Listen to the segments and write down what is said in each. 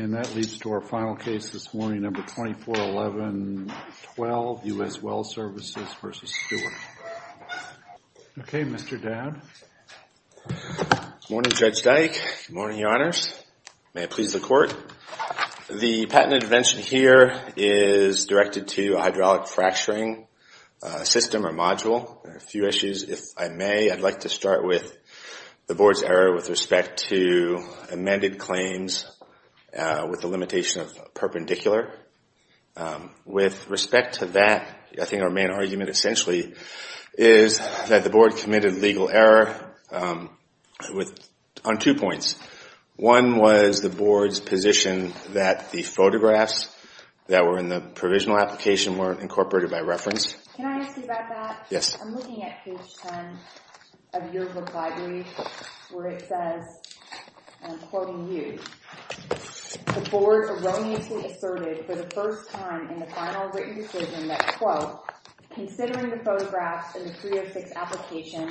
And that leads to our final case this morning, No. 2411-12, U.S. Well Services v. Stewart. Okay, Mr. Dowd. Good morning, Judge Dyke. Good morning, Your Honors. May it please the Court. The patent intervention here is directed to a hydraulic fracturing system or module. There are a few issues, if I may. I'd like to start with the Board's error with respect to amended claims with the limitation of perpendicular. With respect to that, I think our main argument essentially is that the Board committed legal error on two points. One was the Board's position that the photographs that were in the provisional application weren't incorporated by reference. Can I ask you about that? Yes. I'm looking at page 10 of your reply brief where it says, and I'm quoting you, the Board erroneously asserted for the first time in the final written decision that, quote, considering the photographs in the 306 application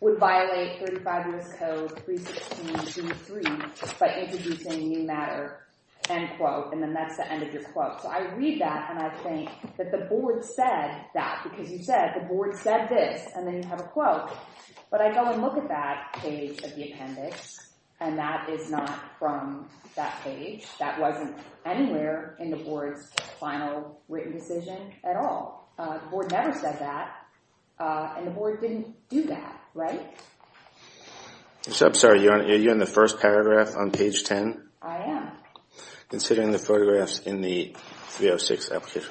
would violate 35 U.S. Code 316.2.3 by introducing new matter, end quote. And then that's the end of your quote. So I read that, and I think that the Board said that because you said the Board said this, and then you have a quote. But I go and look at that page of the appendix, and that is not from that page. That wasn't anywhere in the Board's final written decision at all. The Board never said that, and the Board didn't do that, right? I'm sorry. Are you on the first paragraph on page 10? I am. Considering the photographs in the 306 application.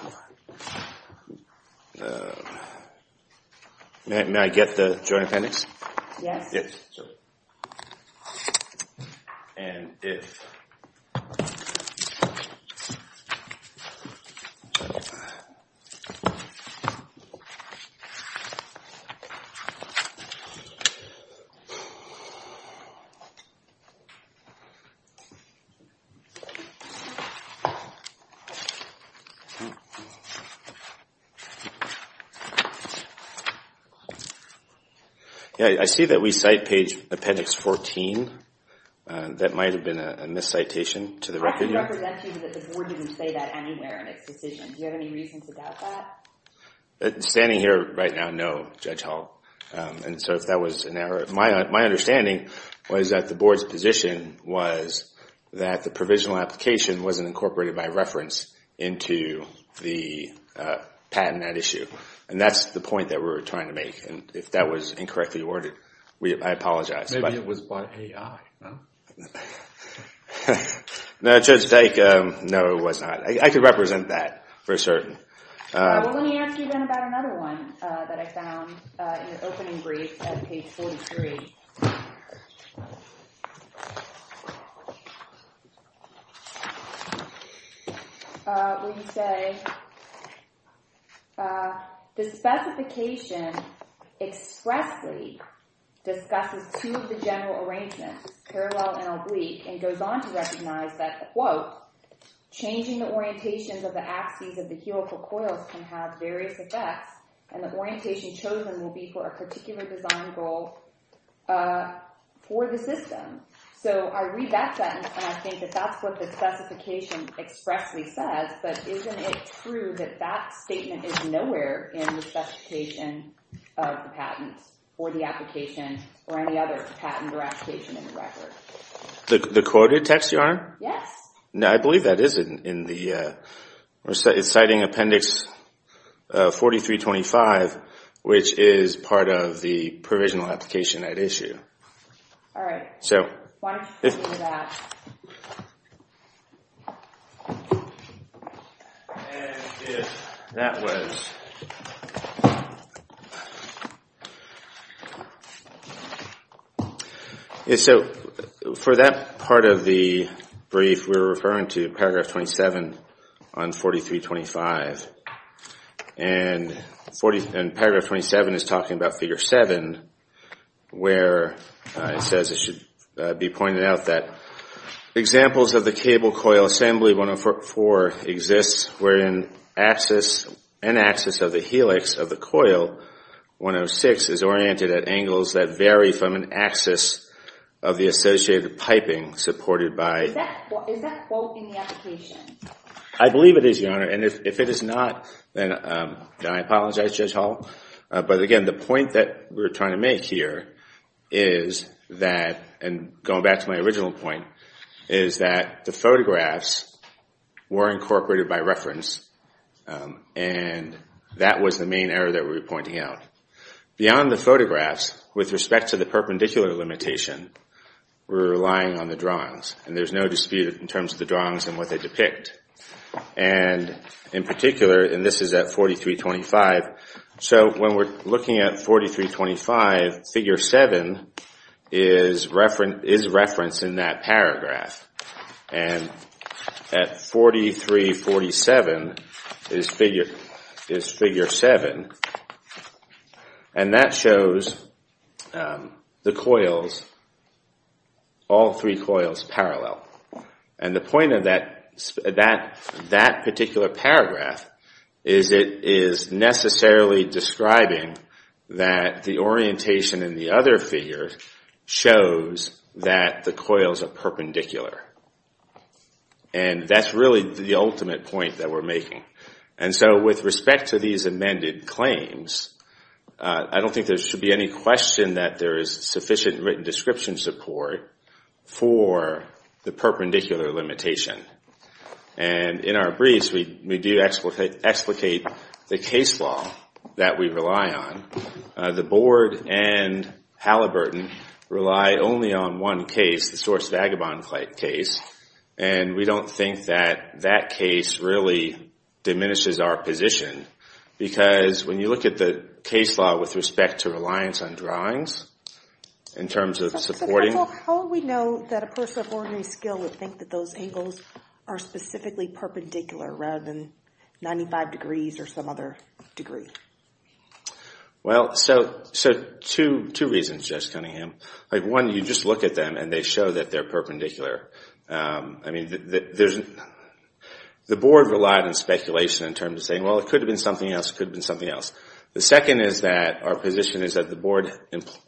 May I get the joint appendix? Yes. And if. I see that we cite page appendix 14. That might have been a miscitation to the record. I can represent you that the Board didn't say that anywhere in its decision. Do you have any reasons about that? Standing here right now, no, Judge Hall. And so if that was an error. My understanding was that the Board's position was that the provisional application wasn't incorporated by reference into the patent at issue. And that's the point that we were trying to make. And if that was incorrectly worded, I apologize. Maybe it was by AI, no? No, Judge Dyke, no it was not. I can represent that for certain. Let me ask you then about another one that I found in the opening brief at page 43. We say. The specification expressly discusses two of the general arrangements, parallel and oblique, and goes on to recognize that, quote, changing the orientations of the axes of the heurical coils can have various effects. And the orientation chosen will be for a particular design goal for the system. So I read that sentence and I think that that's what the specification expressly says. But isn't it true that that statement is nowhere in the specification of the patent or the application or any other patent or application in the record? The quoted text, Your Honor? Yes. I believe that is in the, it's citing Appendix 4325, which is part of the provisional application at issue. All right. So. Why don't you read that? And if that was. So for that part of the brief, we're referring to Paragraph 27 on 4325. And Paragraph 27 is talking about Figure 7, where it says it should be pointed out that examples of the cable coil assembly 104 exists wherein an axis of the helix of the coil 106 is oriented at angles that vary from an axis of the associated piping supported by. Is that both in the application? I believe it is, Your Honor. And if it is not, then I apologize, Judge Hall. But again, the point that we're trying to make here is that, and going back to my original point, is that the photographs were incorporated by reference. And that was the main error that we were pointing out. Beyond the photographs, with respect to the perpendicular limitation, we're relying on the drawings. And there's no dispute in terms of the drawings and what they depict. And in particular, and this is at 4325, so when we're looking at 4325, Figure 7 is referenced in that paragraph. And at 4347 is Figure 7. And that shows the coils, all three coils parallel. And the point of that particular paragraph is it is necessarily describing that the orientation in the other figure shows that the coils are perpendicular. And that's really the ultimate point that we're making. And so with respect to these amended claims, I don't think there should be any question that there is sufficient written description support for the perpendicular limitation. And in our briefs, we do explicate the case law that we rely on. The Board and Halliburton rely only on one case, the Source Vagabond case. And we don't think that that case really diminishes our position. Because when you look at the case law with respect to reliance on drawings, in terms of supporting... How would we know that a person of ordinary skill would think that those angles are specifically perpendicular rather than 95 degrees or some other degree? Well, so two reasons, Jess Cunningham. One, you just look at them and they show that they're perpendicular. The Board relied on speculation in terms of saying, well, it could have been something else, it could have been something else. The second is that our position is that the Board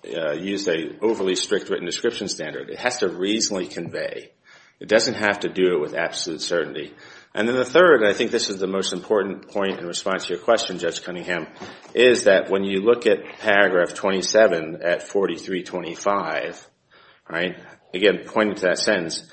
used an overly strict written description standard. It has to reasonably convey. It doesn't have to do it with absolute certainty. And then the third, and I think this is the most important point in response to your question, Jess Cunningham, is that when you look at paragraph 27 at 4325, again pointing to that sentence,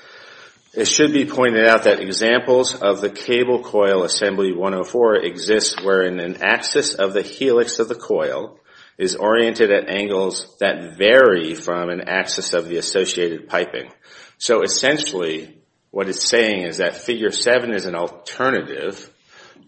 it should be pointed out that examples of the cable coil assembly 104 exists wherein an axis of the helix of the coil is oriented at angles that vary from an axis of the associated piping. So essentially, what it's saying is that figure 7 is an alternative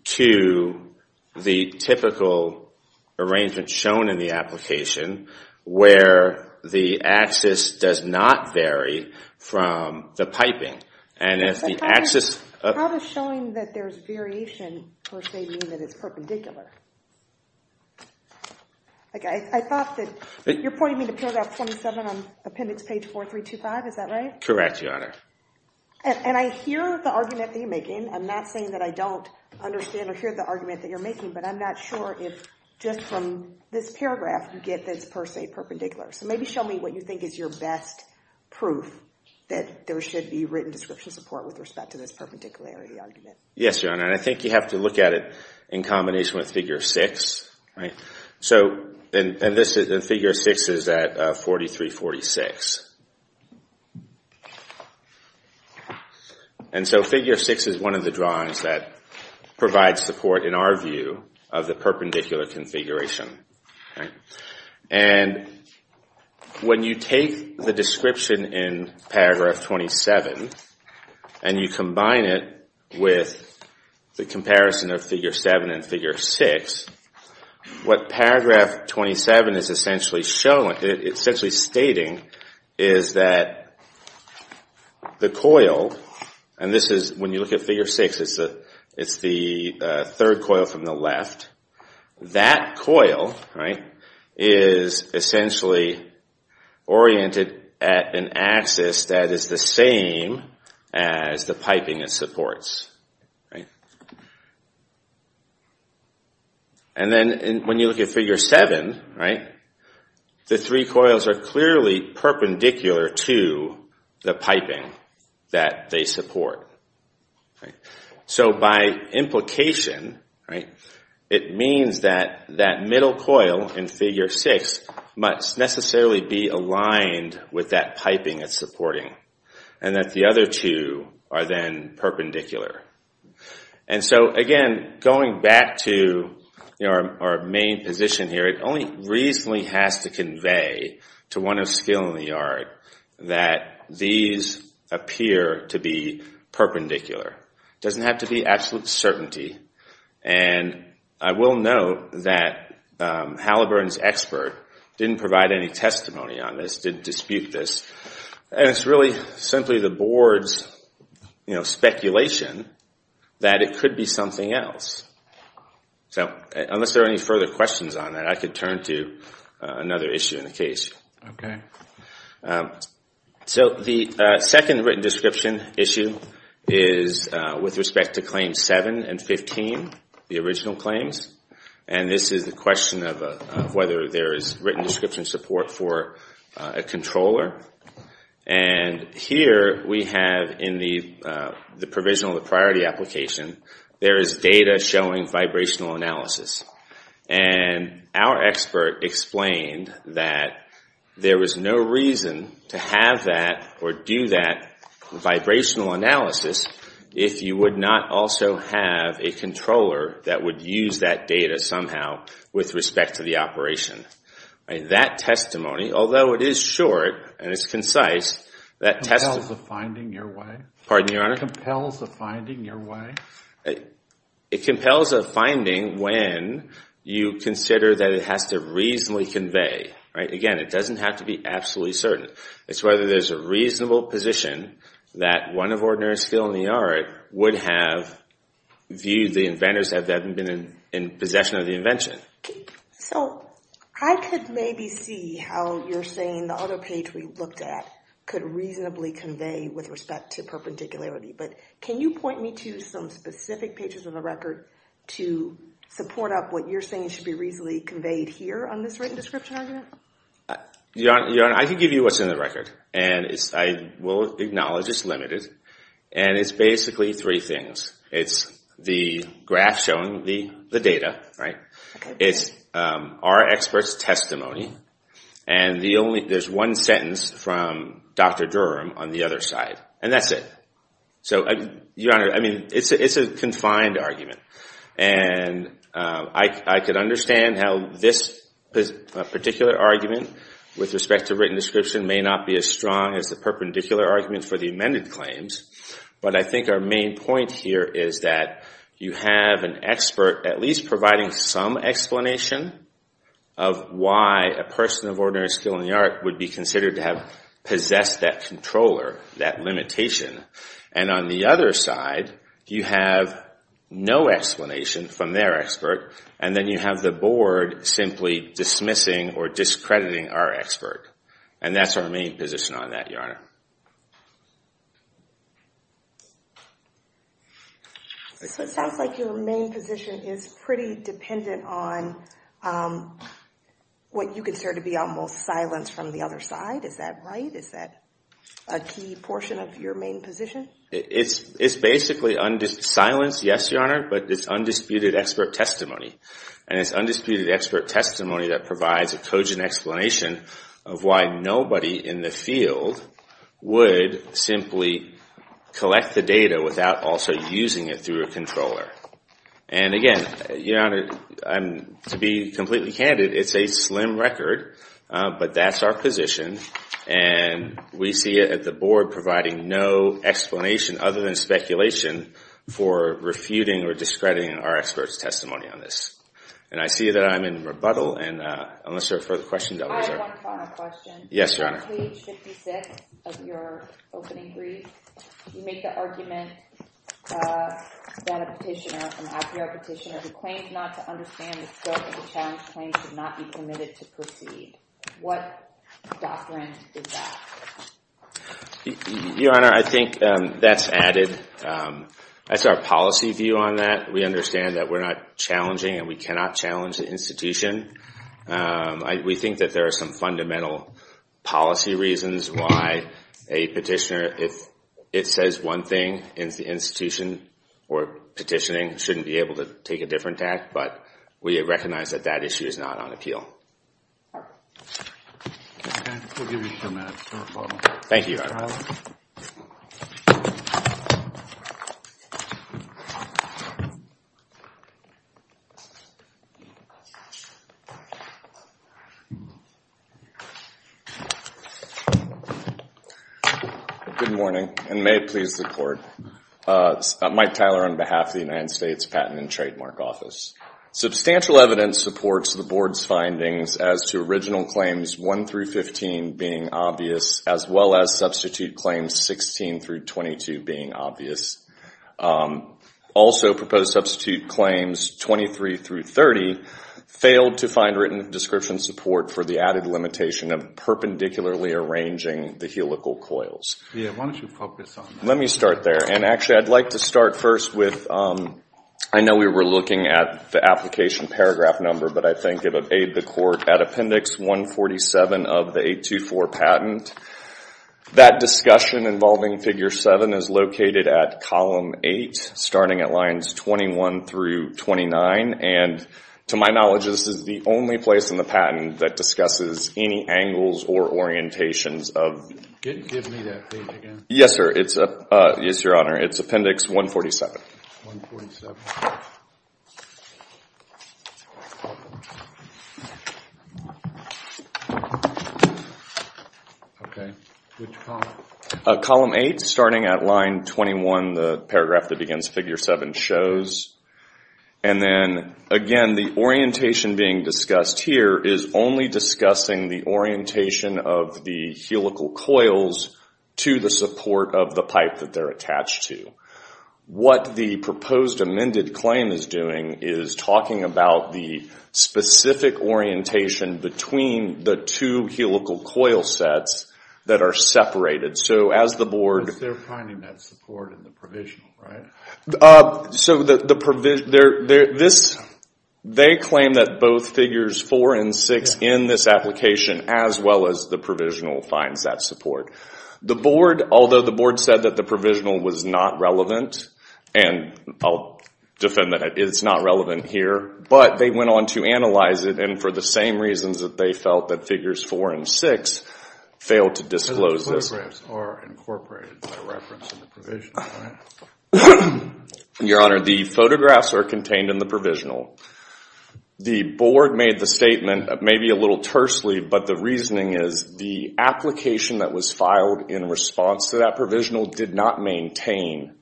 to the typical arrangement shown in the application where the axis does not vary from the piping. And if the axis... How does showing that there's variation, per se, mean that it's perpendicular? I thought that... You're pointing me to paragraph 27 on appendix page 4325, is that right? Correct, Your Honor. And I hear the argument that you're making. I'm not saying that I don't understand or hear the argument that you're making, but I'm not sure if just from this paragraph you get that it's per se perpendicular. So maybe show me what you think is your best proof that there should be written description support with respect to this perpendicularity argument. Yes, Your Honor. And I think you have to look at it in combination with figure 6. So figure 6 is at 4346. And so figure 6 is one of the drawings that provides support, in our view, of the perpendicular configuration. And when you take the description in paragraph 27 and you combine it with the comparison of figure 7 and figure 6, what paragraph 27 is essentially stating is that the coil... And when you look at figure 6, it's the third coil from the left. That coil is essentially oriented at an axis that is the same as the piping it supports. And then when you look at figure 7, the three coils are clearly perpendicular to the piping that they support. So by implication, it means that that middle coil in figure 6 must necessarily be aligned with that piping it's supporting, and that the other two are then perpendicular. And so again, going back to our main position here, it only reasonably has to convey to one of skill in the art that these appear to be perpendicular. It doesn't have to be absolute certainty. And I will note that Halliburton's expert didn't provide any testimony on this, didn't dispute this. And it's really simply the board's speculation that it could be something else. So unless there are any further questions on that, I could turn to another issue in the case. Okay. So the second written description issue is with respect to claims 7 and 15, the original claims. And this is the question of whether there is written description support for a controller. And here we have in the provisional, the priority application, there is data showing vibrational analysis. And our expert explained that there was no reason to have that or do that vibrational analysis if you would not also have a controller that would use that data somehow with respect to the operation. That testimony, although it is short and it's concise, that testimony Compels a finding your way? Pardon me, Your Honor? Compels a finding your way? It compels a finding when you consider that it has to reasonably convey. Again, it doesn't have to be absolutely certain. It's whether there's a reasonable position that one of ordinary skill in the art would have viewed the inventors as having been in possession of the invention. So I could maybe see how you're saying the other page we looked at could reasonably convey with respect to perpendicularity. But can you point me to some specific pages of the record to support up what you're saying should be reasonably conveyed here on this written description argument? Your Honor, I can give you what's in the record. And I will acknowledge it's limited. And it's basically three things. It's the graph showing the data. It's our expert's testimony. And there's one sentence from Dr. Durham on the other side. And that's it. Your Honor, it's a confined argument. And I could understand how this particular argument with respect to written description may not be as strong as the perpendicular argument for the amended claims. But I think our main point here is that you have an expert at least providing some explanation of why a person of ordinary skill in the art would be considered to have possessed that controller, that limitation. And on the other side, you have no explanation from their expert. And then you have the board simply dismissing or discrediting our expert. And that's our main position on that, Your Honor. So it sounds like your main position is pretty dependent on what you consider to be almost silence from the other side. Is that right? Is that a key portion of your main position? It's basically silence, yes, Your Honor, but it's undisputed expert testimony. And it's undisputed expert testimony that provides a cogent explanation of why nobody in the field would simply collect the data without also using it through a controller. And again, Your Honor, to be completely candid, it's a slim record, but that's our position. And we see it at the board providing no explanation other than speculation for refuting or discrediting our expert's testimony on this. And I see that I'm in rebuttal, and unless there are further questions, I'll let you know. I have one final question. Yes, Your Honor. On page 56 of your opening brief, you make the argument that a petitioner, an appeal petitioner who claims not to understand the scope of the challenge claims to not be permitted to proceed. What doctrine is that? Your Honor, I think that's added. That's our policy view on that. We understand that we're not challenging and we cannot challenge the institution. We think that there are some fundamental policy reasons why a petitioner, if it says one thing, the institution or petitioning shouldn't be able to take a different act. But we recognize that that issue is not on appeal. We'll give you a few minutes. Thank you, Your Honor. Good morning, and may it please the Court. Mike Tyler on behalf of the United States Patent and Trademark Office. Substantial evidence supports the Board's findings as to original claims 1 through 15 being obvious, as well as substitute claims 16 through 22 being obvious. Also proposed substitute claims 23 through 30 failed to find written description support for the added limitation of perpendicularly arranging the helical coils. Why don't you focus on that? Let me start there. Actually, I'd like to start first with, I know we were looking at the application paragraph number, but I think it would aid the Court. At Appendix 147 of the 824 patent, that discussion involving Figure 7 is located at Column 8, starting at Lines 21 through 29, and to my knowledge, this is the only place in the patent that discusses any angles or orientations of... Give me that page again. Yes, sir. Yes, Your Honor. It's Appendix 147. 147. Okay. Which column? Column 8, starting at Line 21, the paragraph that begins Figure 7 shows. And then, again, the orientation being discussed here is only discussing the orientation of the helical coils to the support of the pipe that they're attached to. What the proposed amended claim is doing is talking about the specific orientation between the two helical coil sets that are separated. So, as the Board... They're finding that support in the provisional, right? So, they claim that both Figures 4 and 6 in this application, as well as the provisional, finds that support. Although the Board said that the provisional was not relevant, and I'll defend that it's not relevant here, but they went on to analyze it, and for the same reasons that they felt that Figures 4 and 6 failed to disclose this. Your Honor, the photographs are contained in the provisional. The Board made the statement, maybe a little tersely, but the reasoning is the application that was filed in response to that provisional did not maintain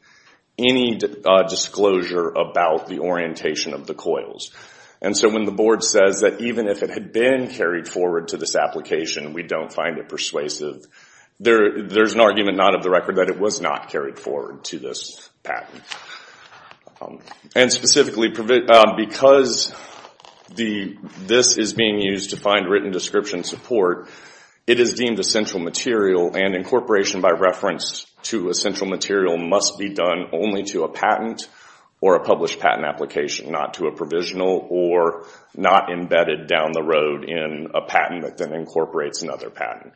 any disclosure about the orientation of the coils. And so, when the Board says that even if it had been carried forward to this application, we don't find it persuasive, there's an argument not of the record that it was not carried forward to this patent. And specifically, because this is being used to find written description support, it is deemed essential material, and incorporation by reference to essential material must be done only to a patent or a published patent application, not to a provisional or not embedded down the road in a patent that then incorporates another patent.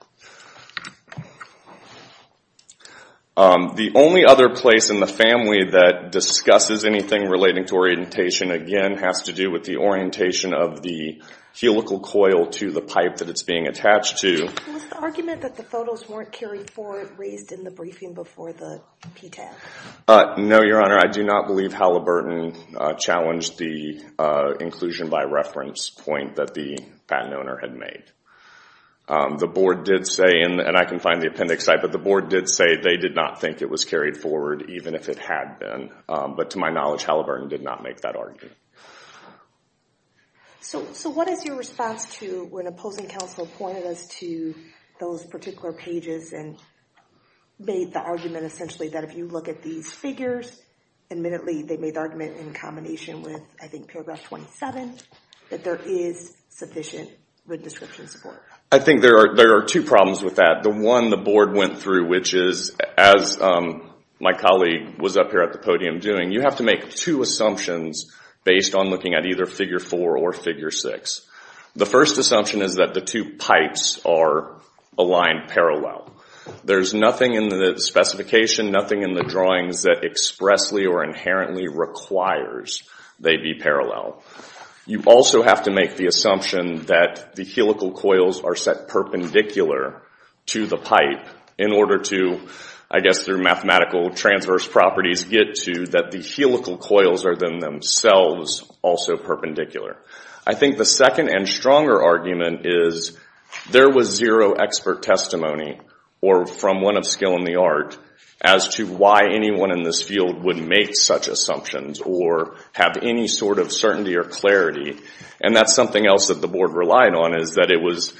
The only other place in the family that discusses anything relating to orientation, again, has to do with the orientation of the helical coil to the pipe that it's being attached to. Was the argument that the photos weren't carried forward raised in the briefing before the PTAC? No, Your Honor, I do not believe Halliburton challenged the inclusion by reference point that the patent owner had made. The Board did say, and I can find the appendix site, but the Board did say they did not think it was carried forward even if it had been. But to my knowledge, Halliburton did not make that argument. So what is your response to when opposing counsel pointed us to those particular pages and made the argument essentially that if you look at these figures, admittedly they made the argument in combination with, I think, paragraph 27, that there is sufficient written description support. I think there are two problems with that. The one the Board went through, which is, as my colleague was up here at the podium doing, you have to make two assumptions based on looking at either figure four or figure six. The first assumption is that the two pipes are aligned parallel. There's nothing in the specification, nothing in the drawings that expressly or inherently requires they be parallel. You also have to make the assumption that the helical coils are set perpendicular to the pipe in order to, I guess through mathematical transverse properties, get to that the helical coils are then themselves also perpendicular. I think the second and stronger argument is there was zero expert testimony or from one of skill in the art as to why anyone in this field would make such assumptions or have any sort of certainty or clarity. And that's something else that the Board relied on is that it was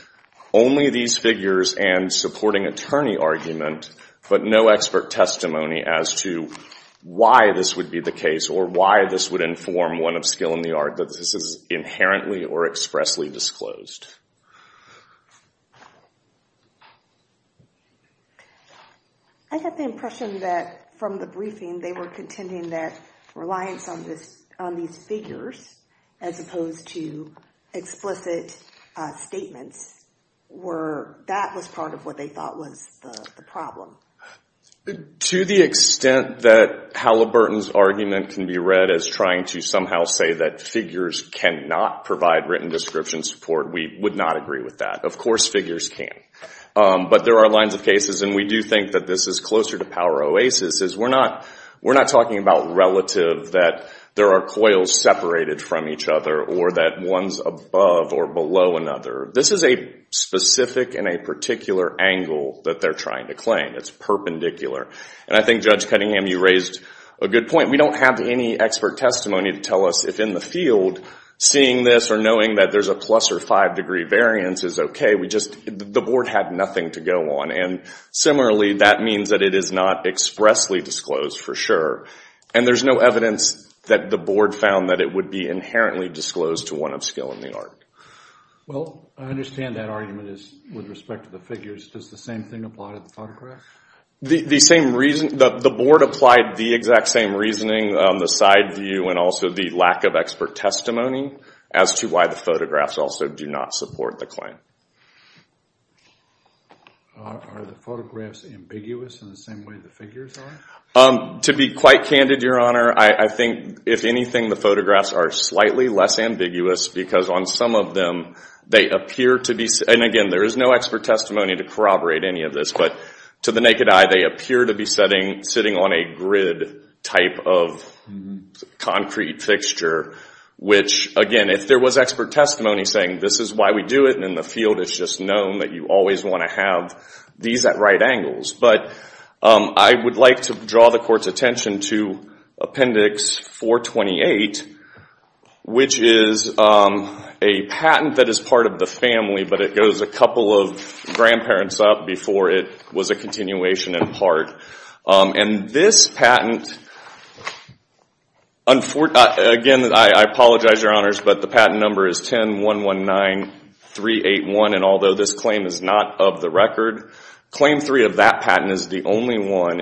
only these figures and supporting attorney argument but no expert testimony as to why this would be the case or why this would inform one of skill in the art that this is inherently or expressly disclosed. I got the impression that from the briefing they were contending that reliance on these figures as opposed to explicit statements, that was part of what they thought was the problem. To the extent that Halliburton's argument can be read as trying to somehow say that figures cannot provide written description support, we would not agree with that. Of course figures can. But there are lines of cases, and we do think that this is closer to power oasis, is we're not talking about relative that there are coils separated from each other or that one's above or below another. This is a specific and a particular angle that they're trying to claim. It's perpendicular. And I think, Judge Cunningham, you raised a good point. We don't have any expert testimony to tell us if in the field seeing this or knowing that there's a plus or five-degree variance is okay. The Board had nothing to go on. And similarly, that means that it is not expressly disclosed for sure. And there's no evidence that the Board found that it would be inherently disclosed to one of skill in the art. Well, I understand that argument is with respect to the figures. Does the same thing apply to the photographs? The Board applied the exact same reasoning on the side view and also the lack of expert testimony as to why the photographs also do not support the claim. Are the photographs ambiguous in the same way the figures are? To be quite candid, Your Honor, I think, if anything, the photographs are slightly less ambiguous because on some of them they appear to be. And again, there is no expert testimony to corroborate any of this. But to the naked eye, they appear to be sitting on a grid type of concrete fixture, which, again, if there was expert testimony saying this is why we do it and in the field it's just known that you always want to have these at right angles. But I would like to draw the Court's attention to Appendix 428, which is a patent that is part of the family, but it goes a couple of grandparents up before it was a continuation in part. And this patent, again, I apologize, Your Honors, but the patent number is 10-119-381. And although this claim is not of the record, Claim 3 of that patent is the only one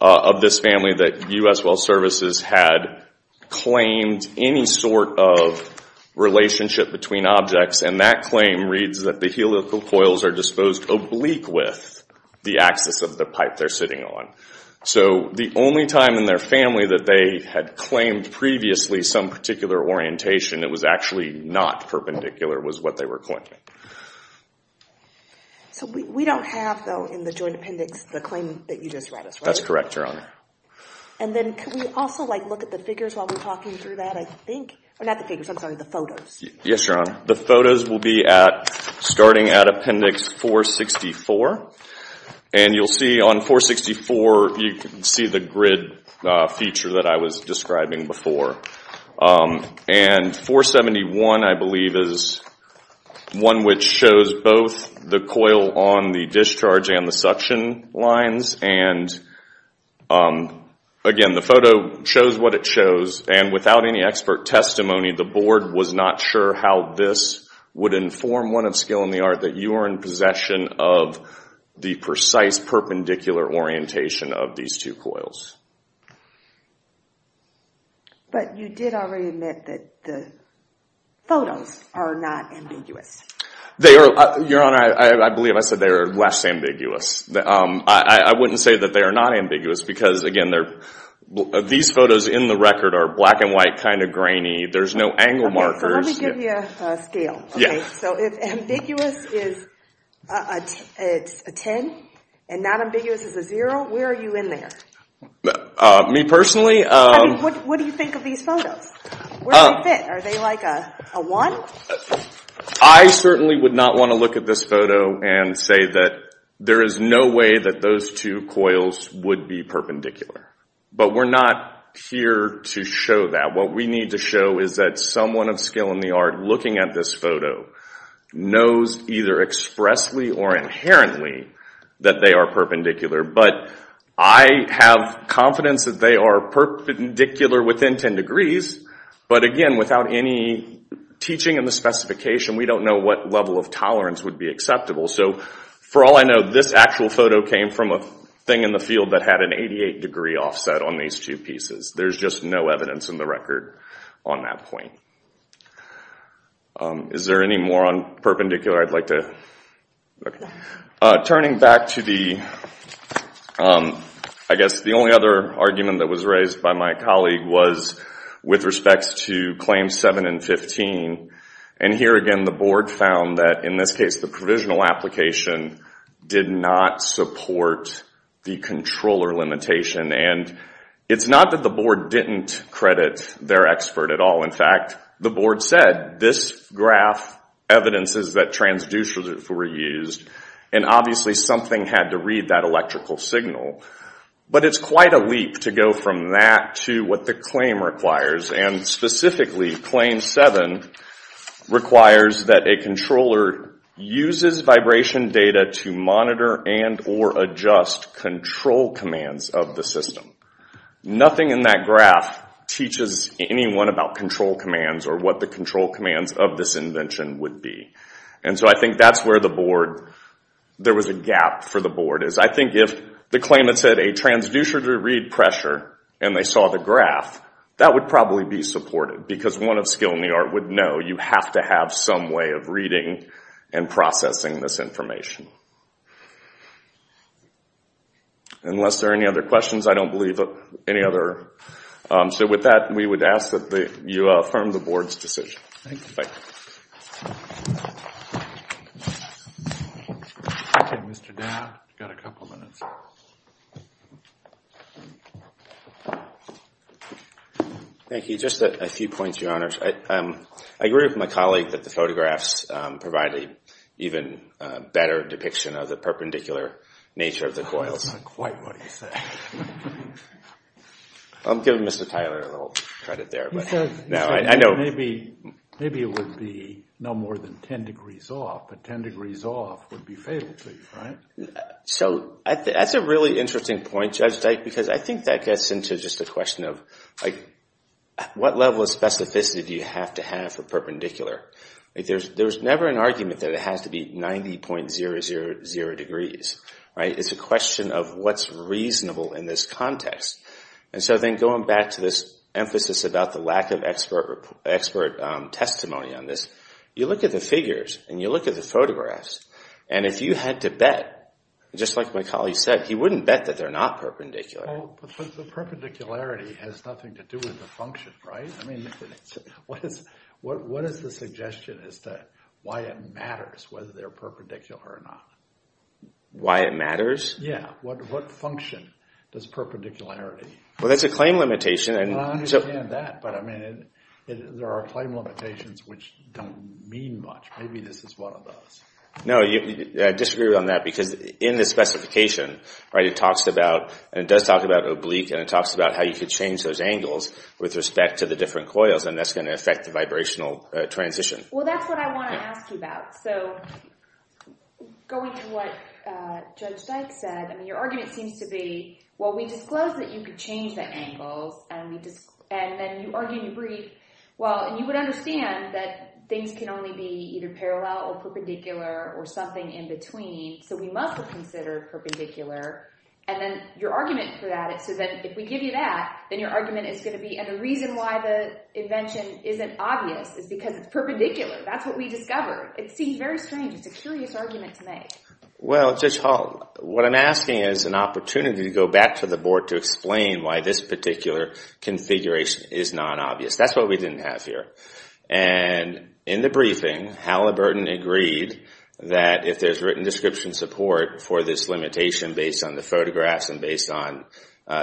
of this family that U.S. Well Services had claimed any sort of relationship between objects. And that claim reads that the helical coils are disposed oblique with the axis of the pipe they're sitting on. So the only time in their family that they had claimed previously some particular orientation that was actually not perpendicular was what they were claiming. So we don't have, though, in the joint appendix the claim that you just read us, right? That's correct, Your Honor. And then can we also look at the figures while we're talking through that, I think? Or not the figures, I'm sorry, the photos. Yes, Your Honor. The photos will be starting at Appendix 464. And you'll see on 464 you can see the grid feature that I was describing before. And 471, I believe, is one which shows both the coil on the discharge and the suction lines. And again, the photo shows what it shows. And without any expert testimony, the Board was not sure how this would inform one of Skill and the Art that you are in possession of the precise perpendicular orientation of these two coils. But you did already admit that the photos are not ambiguous. Your Honor, I believe I said they are less ambiguous. I wouldn't say that they are not ambiguous because, again, these photos in the record are black and white, kind of grainy. There's no angle markers. Okay, so let me give you a scale. So if ambiguous is a 10 and not ambiguous is a zero, where are you in there? Me personally? What do you think of these photos? Where do they fit? Are they like a one? I certainly would not want to look at this photo and say that there is no way that those two coils would be perpendicular. But we're not here to show that. What we need to show is that someone of Skill and the Art looking at this photo knows either expressly or inherently that they are perpendicular. But I have confidence that they are perpendicular within 10 degrees. But, again, without any teaching in the specification, we don't know what level of tolerance would be acceptable. So for all I know, this actual photo came from a thing in the field that had an 88-degree offset on these two pieces. There's just no evidence in the record on that point. Is there any more on perpendicular I'd like to look at? Turning back to the only other argument that was raised by my colleague was with respect to Claims 7 and 15. And here again the board found that, in this case, the provisional application did not support the controller limitation. And it's not that the board didn't credit their expert at all. In fact, the board said, this graph evidences that transducers were used. And obviously something had to read that electrical signal. But it's quite a leap to go from that to what the claim requires. And specifically, Claim 7 requires that a controller uses vibration data to monitor and or adjust control commands of the system. Nothing in that graph teaches anyone about control commands or what the control commands of this invention would be. And so I think that's where there was a gap for the board. I think if the claim had said, a transducer to read pressure, and they saw the graph, that would probably be supported. Because one of skill in the art would know you have to have some way of reading and processing this information. Unless there are any other questions, I don't believe any other. So with that, we would ask that you affirm the board's decision. Thank you. Okay, Mr. Dowd, you've got a couple of minutes. Thank you. Just a few points, Your Honors. I agree with my colleague that the photographs provide an even better depiction of the perpendicular nature of the coils. That's not quite what he said. I'm giving Mr. Tyler a little credit there. He said maybe it would be no more than 10 degrees off, but 10 degrees off would be fatal to you, right? So that's a really interesting point, Judge Dyke, because I think that gets into just the question of what level of specificity do you have to have for perpendicular? There's never an argument that it has to be 90.000 degrees. It's a question of what's reasonable in this context. So then going back to this emphasis about the lack of expert testimony on this, you look at the figures and you look at the photographs, and if you had to bet, just like my colleague said, he wouldn't bet that they're not perpendicular. But the perpendicularity has nothing to do with the function, right? What is the suggestion as to why it matters whether they're perpendicular or not? Why it matters? Yeah, what function does perpendicularity? Well, that's a claim limitation. I understand that, but there are claim limitations which don't mean much. Maybe this is one of those. No, I disagree on that because in the specification, it does talk about oblique and it talks about how you could change those angles with respect to the different coils, and that's going to affect the vibrational transition. Well, that's what I want to ask you about. So going to what Judge Dyke said, your argument seems to be, well, we disclosed that you could change the angles, and then you argue in your brief, well, and you would understand that things can only be either parallel or perpendicular or something in between, so we must have considered perpendicular. And then your argument for that is so that if we give you that, then your argument is going to be, and the reason why the invention isn't obvious is because it's perpendicular. That's what we discovered. It seems very strange. It's a curious argument to make. Well, Judge Hall, what I'm asking is an opportunity to go back to the board to explain why this particular configuration is non-obvious. That's what we didn't have here. And in the briefing, Halliburton agreed that if there's written description support for this limitation based on the photographs and based on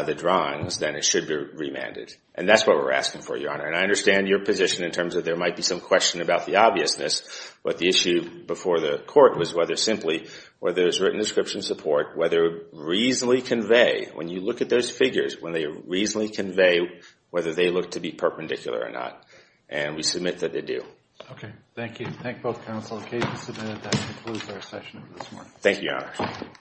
the drawings, then it should be remanded. And that's what we're asking for, Your Honor. And I understand your position in terms of there might be some question about the obviousness, but the issue before the court was whether simply whether there's written description support, whether it would reasonably convey, when you look at those figures, when they reasonably convey whether they look to be perpendicular or not. And we submit that they do. Okay. Thank you. Thank both counsel. The case is submitted. That concludes our session for this morning. Thank you, Your Honor.